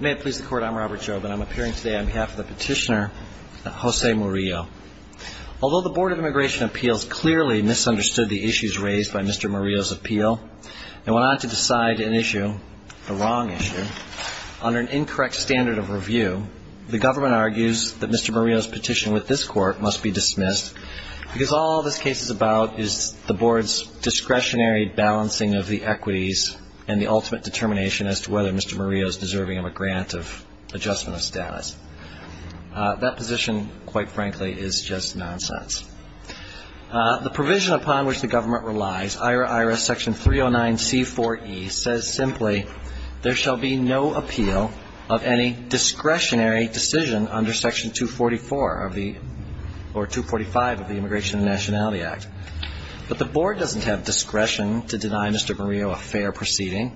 May it please the Court, I'm Robert Jobin. I'm appearing today on behalf of the petitioner, Jose Murillo. Although the Board of Immigration Appeals clearly misunderstood the issues raised by Mr. Murillo's appeal and went on to decide an issue, a wrong issue, under an incorrect standard of review, the government argues that Mr. Murillo's petition with this Court must be dismissed because all this case is about is the Board's discretionary balancing of the equities and the ultimate determination as to whether Mr. Murillo's deserving of a grant of adjustment of status. That position, quite frankly, is just nonsense. The provision upon which the government relies, IRA-IRA Section 309C4E, says simply, there shall be no appeal of any discretionary decision under Section 244 of the, or 245 of the Immigration and Nationality Act. But the Board doesn't have discretion to deny Mr. Murillo a fair proceeding.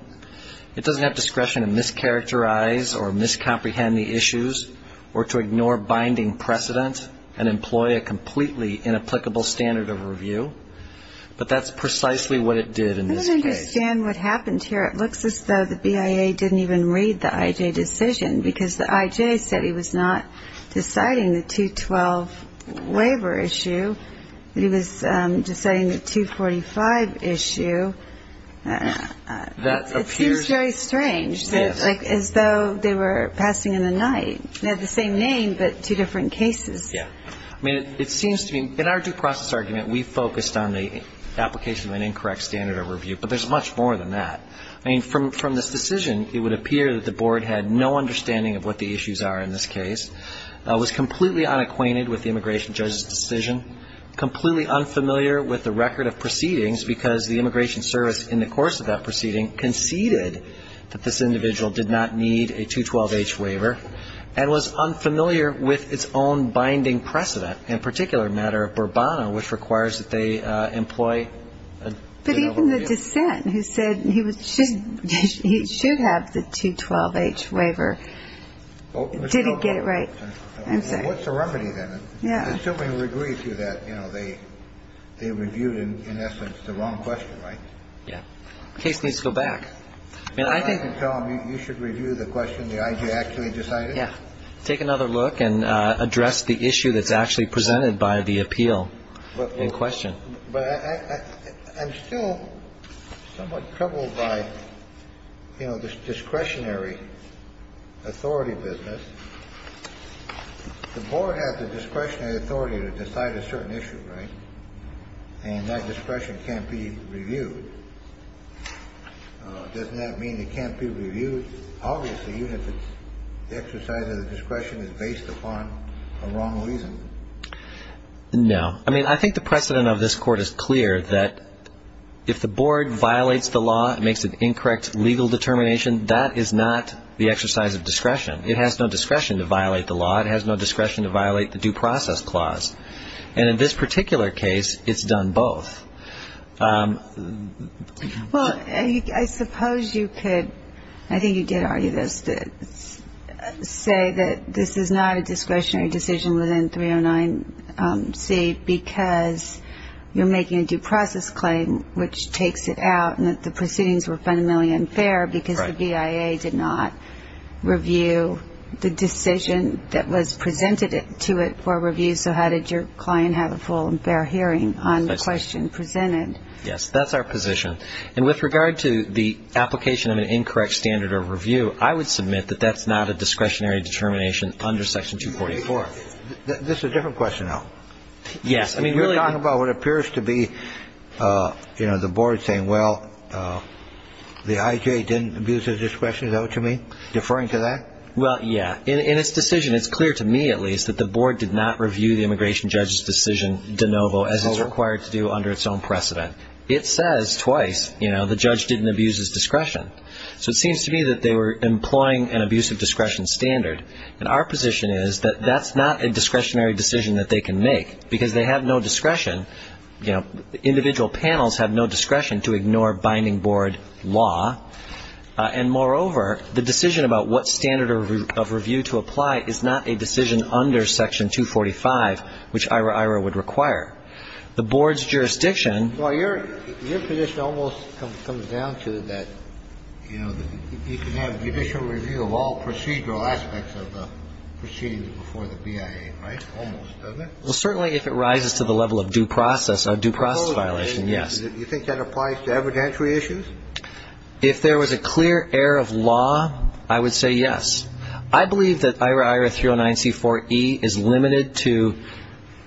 It doesn't have discretion to mischaracterize or miscomprehend the issues or to ignore binding precedent and employ a completely inapplicable standard of review. But that's precisely what it did in this case. I don't understand what happened here. It looks as though the BIA didn't even read the I.J. decision, because the I.J. said he was not deciding the 212 waiver issue, that he was deciding the 245 issue. It seems very strange, as though they were passing in the night. They have the same name, but two different cases. I mean, it seems to me, in our due process argument, we focused on the application of an incorrect standard of review, but there's much more than that. I mean, from this decision, it would appear that the Board had no understanding of what the issues are in this case, was completely unacquainted with the immigration judge's decision, completely unfamiliar with the record of proceedings, because the immigration service in the course of that proceeding conceded that this individual did not need a 212H waiver, and was unfamiliar with its own binding precedent. In a particular matter, Burbano, which requires that they employ a... But even the dissent, who said he should have the 212H waiver, didn't get it right. Well, what's the remedy, then? Yeah. Assuming we agree to that, you know, they reviewed, in essence, the wrong question, right? Yeah. The case needs to go back. I mean, I think... You can tell them you should review the question the I.J. actually decided? Yeah. Take another look and address the issue that's actually presented by the appeal in question. But I'm still somewhat troubled by, you know, this discretionary authority business. The Board has the discretionary authority to decide a certain issue, right? And that discretion can't be reviewed. Doesn't that mean it can't be reviewed? Obviously, even if the exercise of the discretion is based upon a wrong reason. No. I mean, I think the precedent of this Court is clear that if the Board violates the law and makes an incorrect legal determination, that is not the exercise of discretion. It has no discretion to violate the law. It has no discretion to violate the due process clause. And in this particular case, it's done both. Well, I suppose you could, I think you did argue this, say that this is not a discretionary decision within 309C because you're making a due process claim, which takes it out and that the proceedings were fundamentally unfair because the BIA did not review the decision that was presented to it for review. So how did your client have a full and fair hearing on the question? Yes, that's our position. And with regard to the application of an incorrect standard of review, I would submit that that's not a discretionary determination under Section 244. This is a different question, though. Yes. You're talking about what appears to be, you know, the Board saying, well, the IJ didn't abuse their discretion, though, to me, deferring to that? In its decision, it's clear to me, at least, that the Board did not review the immigration judge's decision de novo, as it's required to do under its own precedent. It says twice, you know, the judge didn't abuse his discretion. So it seems to me that they were employing an abuse of discretion standard. And our position is that that's not a discretionary decision that they can make because they have no discretion, you know, individual panels have no discretion to ignore binding board law. And, moreover, the decision about what standard of review to apply is not a decision under Section 245, which IRA-IRA would require. The Board's jurisdiction. Well, your position almost comes down to that, you know, you can have judicial review of all procedural aspects of the proceedings before the BIA, right, almost, doesn't it? Well, certainly if it rises to the level of due process, a due process violation, yes. Do you think that applies to evidentiary issues? If there was a clear error of law, I would say yes. I believe that IRA-IRA 309c4e is limited to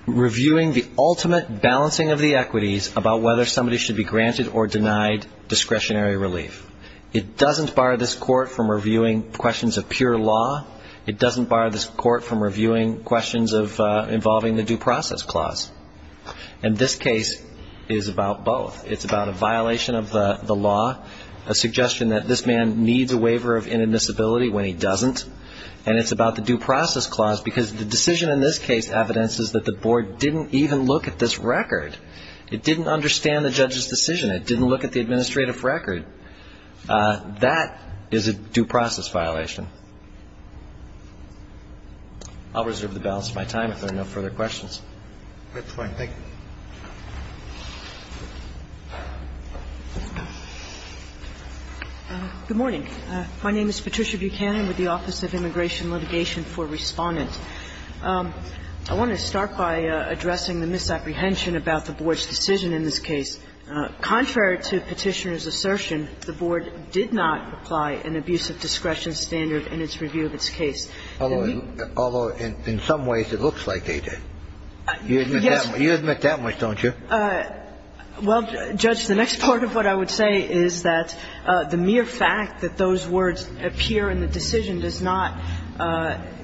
reviewing the ultimate balancing of the equities about whether somebody should be granted or denied discretionary relief. It doesn't bar this court from reviewing questions of pure law. It doesn't bar this court from reviewing questions of involving the due process clause. And this case is about both. It's about a violation of the law, a suggestion that this man needs a waiver of inadmissibility when he doesn't. And it's about the due process clause because the decision in this case evidences that the Board didn't even look at this record. It didn't understand the judge's decision. It didn't look at the administrative record. That is a due process violation. I'll reserve the balance of my time if there are no further questions. That's fine. Thank you. Good morning. My name is Patricia Buchanan with the Office of Immigration Litigation for Respondent. I want to start by addressing the misapprehension about the Board's decision in this case. Contrary to Petitioner's assertion, the Board did not apply an abuse of discretion standard in its review of its case. Although in some ways it looks like they did. Yes. You admit that much, don't you? Well, Judge, the next part of what I would say is that the mere fact that those words appear in the decision does not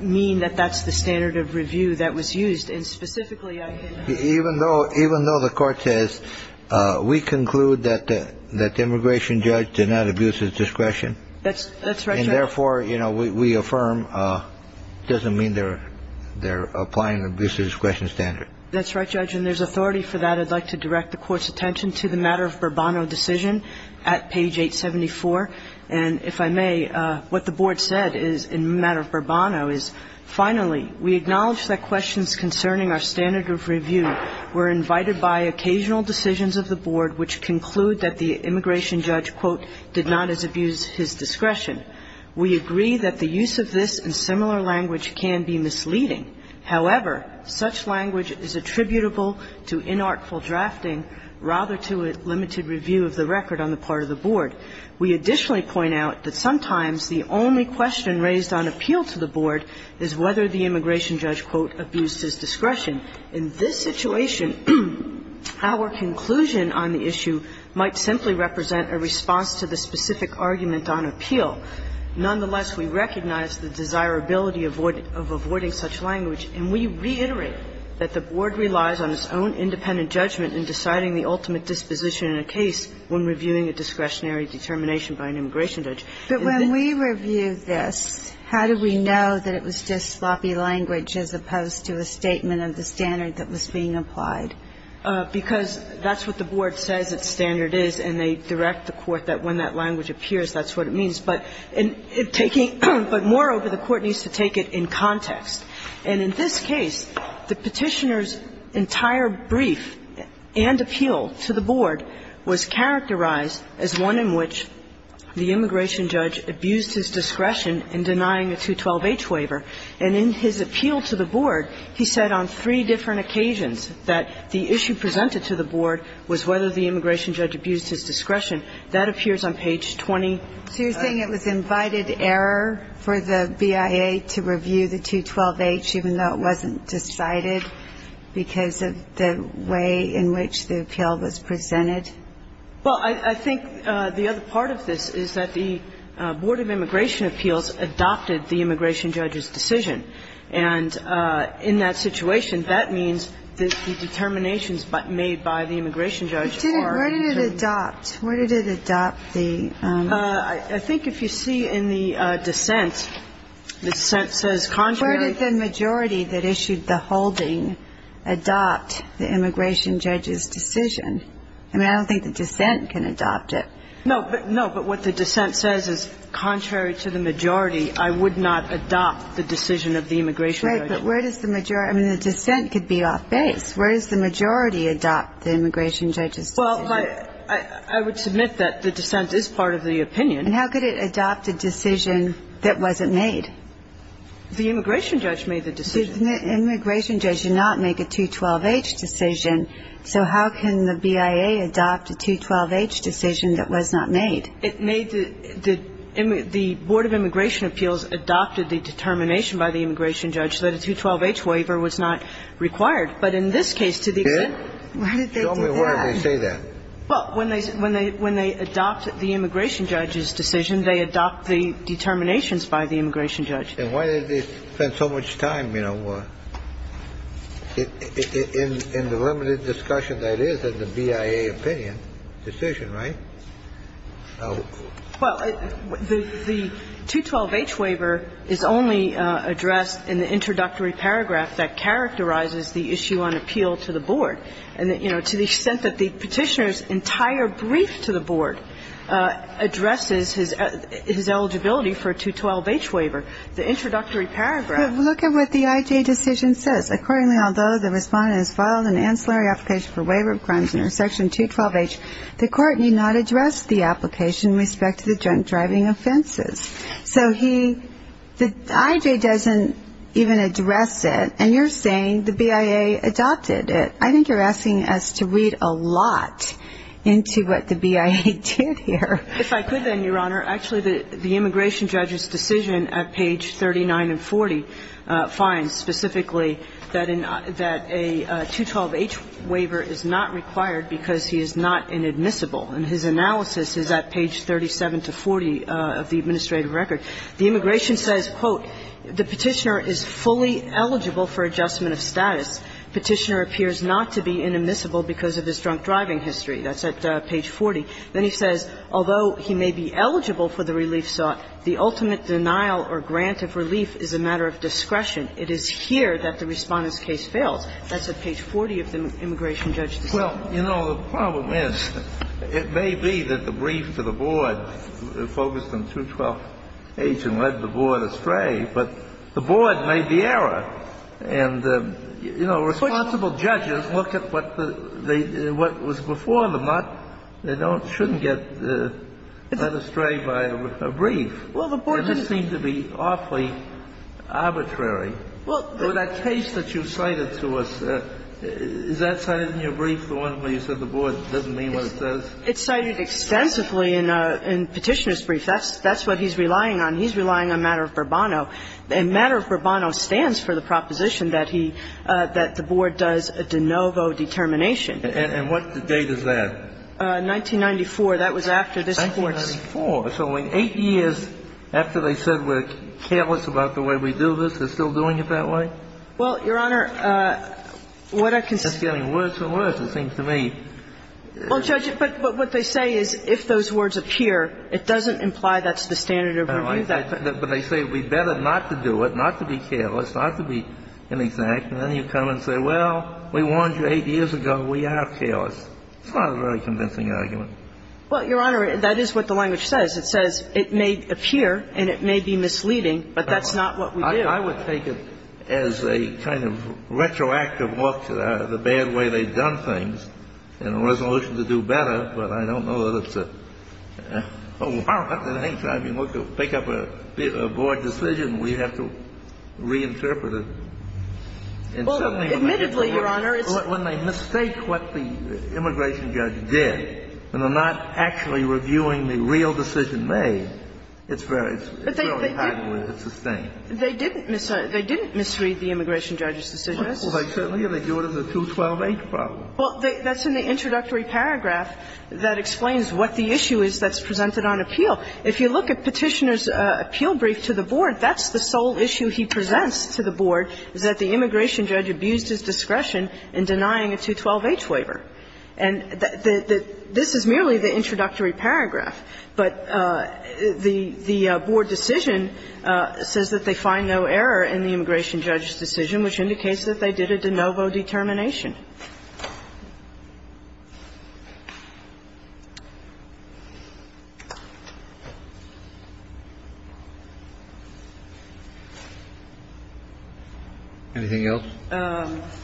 mean that that's the standard of review that was used. And specifically, I think that's true. Even though the Court says we conclude that the immigration judge did not abuse his discretion. That's right, Judge. And therefore, you know, we affirm it doesn't mean they're applying an abuse of discretion standard. That's right, Judge. And there's authority for that. I'd like to direct the Court's attention to the matter of Bourbon decision at page 874. And if I may, what the Board said in matter of Bourbon is, finally, we acknowledge that questions concerning our standard of review were invited by occasional decisions of the Board which conclude that the immigration judge, quote, did not as abuse his discretion. We agree that the use of this and similar language can be misleading. However, such language is attributable to inartful drafting rather to a limited review of the record on the part of the Board. We additionally point out that sometimes the only question raised on appeal to the Board is whether the immigration judge, quote, abused his discretion. In this situation, our conclusion on the issue might simply represent a response to the specific argument on appeal. Nonetheless, we recognize the desirability of avoiding such language. And we reiterate that the Board relies on its own independent judgment in deciding the ultimate disposition in a case when reviewing a discretionary determination by an immigration judge. But when we review this, how do we know that it was just sloppy language as opposed to a statement of the standard that was being applied? Because that's what the Board says its standard is, and they direct the Court that when that language appears, that's what it means. But moreover, the Court needs to take it in context. And in this case, the Petitioner's entire brief and appeal to the Board was characterized as one in which the immigration judge abused his discretion in denying a 212-H waiver. And in his appeal to the Board, he said on three different occasions that the issue presented to the Board was whether the immigration judge abused his discretion. That appears on page 20. So you're saying it was invited error for the BIA to review the 212-H even though it wasn't decided because of the way in which the appeal was presented? Well, I think the other part of this is that the Board of Immigration Appeals adopted the immigration judge's decision. And in that situation, that means that the determinations made by the immigration judge are in terms of the Board of Immigration Appeals. Where did it adopt? Where did it adopt the? I think if you see in the dissent, the dissent says contrary. Where did the majority that issued the holding adopt the immigration judge's decision? I mean, I don't think the dissent can adopt it. No, but what the dissent says is contrary to the majority, I would not adopt the decision of the immigration judge. Right. But where does the majority? I mean, the dissent could be off base. Where does the majority adopt the immigration judge's decision? Well, I would submit that the dissent is part of the opinion. And how could it adopt a decision that wasn't made? The immigration judge made the decision. The immigration judge did not make a 212-H decision, so how can the BIA adopt a 212-H decision that was not made? It made the the Board of Immigration Appeals adopted the determination by the immigration judge that a 212-H waiver was not required. But in this case, to the extent. Where did they do that? Show me where they say that. Well, when they adopt the immigration judge's decision, they adopt the determinations by the immigration judge. And why did they spend so much time, you know, in the limited discussion that it is in the BIA opinion, decision, right? Well, the 212-H waiver is only addressed in the introductory paragraph that characterizes the issue on appeal to the board. And, you know, to the extent that the Petitioner's entire brief to the board addresses his eligibility for a 212-H waiver, the introductory paragraph. Look at what the IJ decision says. Accordingly, although the respondent has filed an ancillary application for waiver of crimes under Section 212-H, the court need not address the application with respect to the drunk driving offenses. So he, the IJ doesn't even address it. And you're saying the BIA adopted it. I think you're asking us to read a lot into what the BIA did here. If I could then, Your Honor, actually the immigration judge's decision at page 39 and 40 finds specifically that a 212-H waiver is not required because he is not inadmissible. And his analysis is at page 37 to 40 of the administrative record. The immigration says, quote, The Petitioner is fully eligible for adjustment of status. Petitioner appears not to be inadmissible because of his drunk driving history. That's at page 40. Then he says, Although he may be eligible for the relief sought, the ultimate denial or grant of relief is a matter of discretion. It is here that the Respondent's case fails. That's at page 40 of the immigration judge's decision. Well, you know, the problem is it may be that the brief to the board focused on 212-H and led the board astray, but the board made the error. And, you know, responsible judges look at what the they what was before the mutt. They don't shouldn't get led astray by a brief. Well, the board doesn't It doesn't seem to be awfully arbitrary. Well, the Well, that case that you cited to us, is that cited in your brief, the one where you said the board doesn't mean what it says? It's cited extensively in Petitioner's brief. That's what he's relying on. He's relying on matter of Bourbono. And matter of Bourbono stands for the proposition that he, that the board does a de novo determination. And what date is that? 1994. That was after this Court's 1994. So in 8 years after they said we're careless about the way we do this, they're still doing it that way? Well, Your Honor, what I can say It's getting worse and worse, it seems to me. Well, Judge, but what they say is if those words appear, it doesn't imply that's the standard of review. But they say we'd better not to do it, not to be careless, not to be inexact. And then you come and say, well, we warned you 8 years ago, we are careless. It's not a very convincing argument. Well, Your Honor, that is what the language says. It says it may appear and it may be misleading, but that's not what we do. I would take it as a kind of retroactive look to the bad way they've done things and a resolution to do better. But I don't know that it's a, oh, well, at any time you want to pick up a board decision, we have to reinterpret it. Admittedly, Your Honor, it's And they're not actually reviewing the real decision made. It's very highly sustained. They didn't misread the immigration judge's decision. Well, they certainly didn't. They do it as a 212H problem. Well, that's in the introductory paragraph that explains what the issue is that's presented on appeal. If you look at Petitioner's appeal brief to the board, that's the sole issue he presents to the board, is that the immigration judge abused his discretion in denying a 212H waiver. And this is merely the introductory paragraph. But the board decision says that they find no error in the immigration judge's decision, which indicates that they did a de novo determination. Anything else?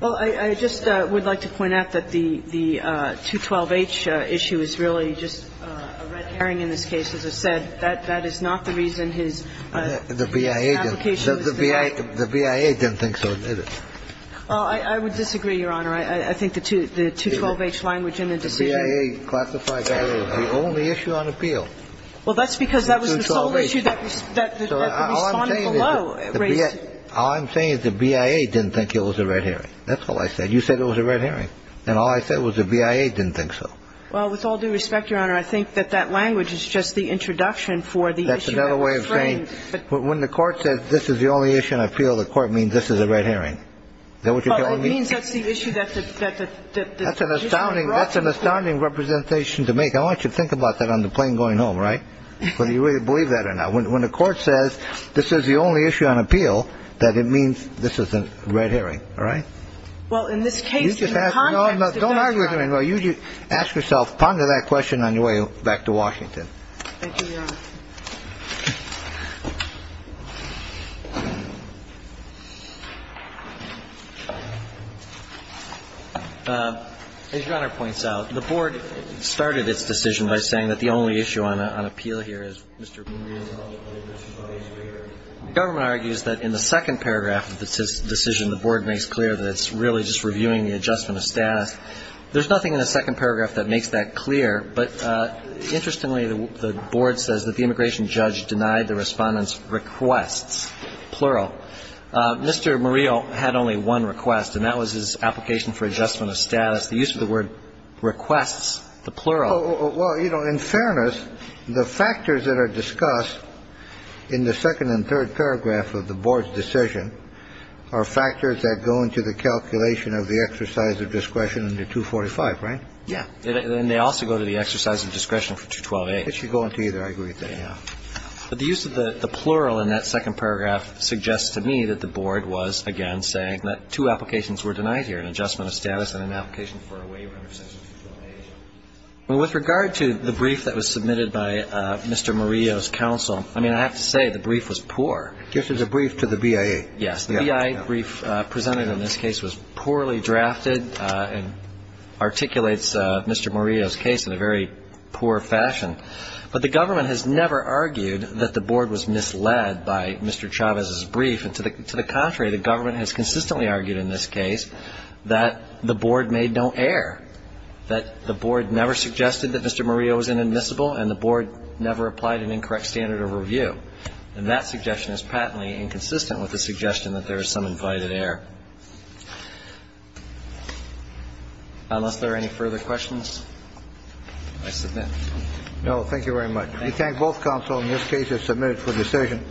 Well, I just would like to point out that the 212H issue is really just a red herring in this case. As I said, that is not the reason his application was denied. The BIA didn't think so. Well, I would disagree, Your Honor. I think the 212H language in the decision. The BIA classified that as the only issue on appeal. Well, that's because that was the sole issue that the respondent below raised. All I'm saying is the BIA didn't think it was a red herring. That's all I said. You said it was a red herring. And all I said was the BIA didn't think so. Well, with all due respect, Your Honor, I think that that language is just the introduction for the issue at the frame. That's another way of saying when the Court says this is the only issue on appeal, the Court means this is a red herring. Is that what you're telling me? Well, it means that's the issue that the issue brought to the Court. That's an astounding representation to make. I want you to think about that on the plane going home, right, whether you really believe that or not. When the Court says this is the only issue on appeal, that it means this is a red herring. Well, in this case, in the context of that, Your Honor. Don't argue with me. You just ask yourself, ponder that question on your way back to Washington. Thank you, Your Honor. As Your Honor points out, the Board started its decision by saying that the only issue on appeal here is Mr. Brewer. The government argues that in the second paragraph of the decision, the Board makes clear that it's really just reviewing the adjustment of status. There's nothing in the second paragraph that makes that clear. But interestingly, the Board says that the immigration judge denied the Respondent's requests, plural. Mr. Murillo had only one request, and that was his application for adjustment of status. The use of the word requests, the plural. Well, you know, in fairness, the factors that are discussed in the second and third paragraph of the Board's decision are factors that go into the calculation of the exercise of discretion under 245, right? Yeah. And they also go to the exercise of discretion for 212A. It should go into either. I agree with that, yeah. But the use of the plural in that second paragraph suggests to me that the Board was, again, saying that two applications were denied here, an adjustment of status and an application for a waiver under section 248. With regard to the brief that was submitted by Mr. Murillo's counsel, I mean, I have to say the brief was poor. This is a brief to the BIA. Yes. The BIA brief presented in this case was poorly drafted and articulates Mr. Murillo's case in a very poor fashion. But the government has never argued that the Board was misled by Mr. Chavez's brief. And to the contrary, the government has consistently argued in this case that the Board made no error, that the Board never suggested that Mr. Murillo was inadmissible and the Board never applied an incorrect standard of review. And that suggestion is patently inconsistent with the suggestion that there is some invited error. Unless there are any further questions, I submit. No. Thank you very much. We thank both counsels. In this case, it's submitted for decision.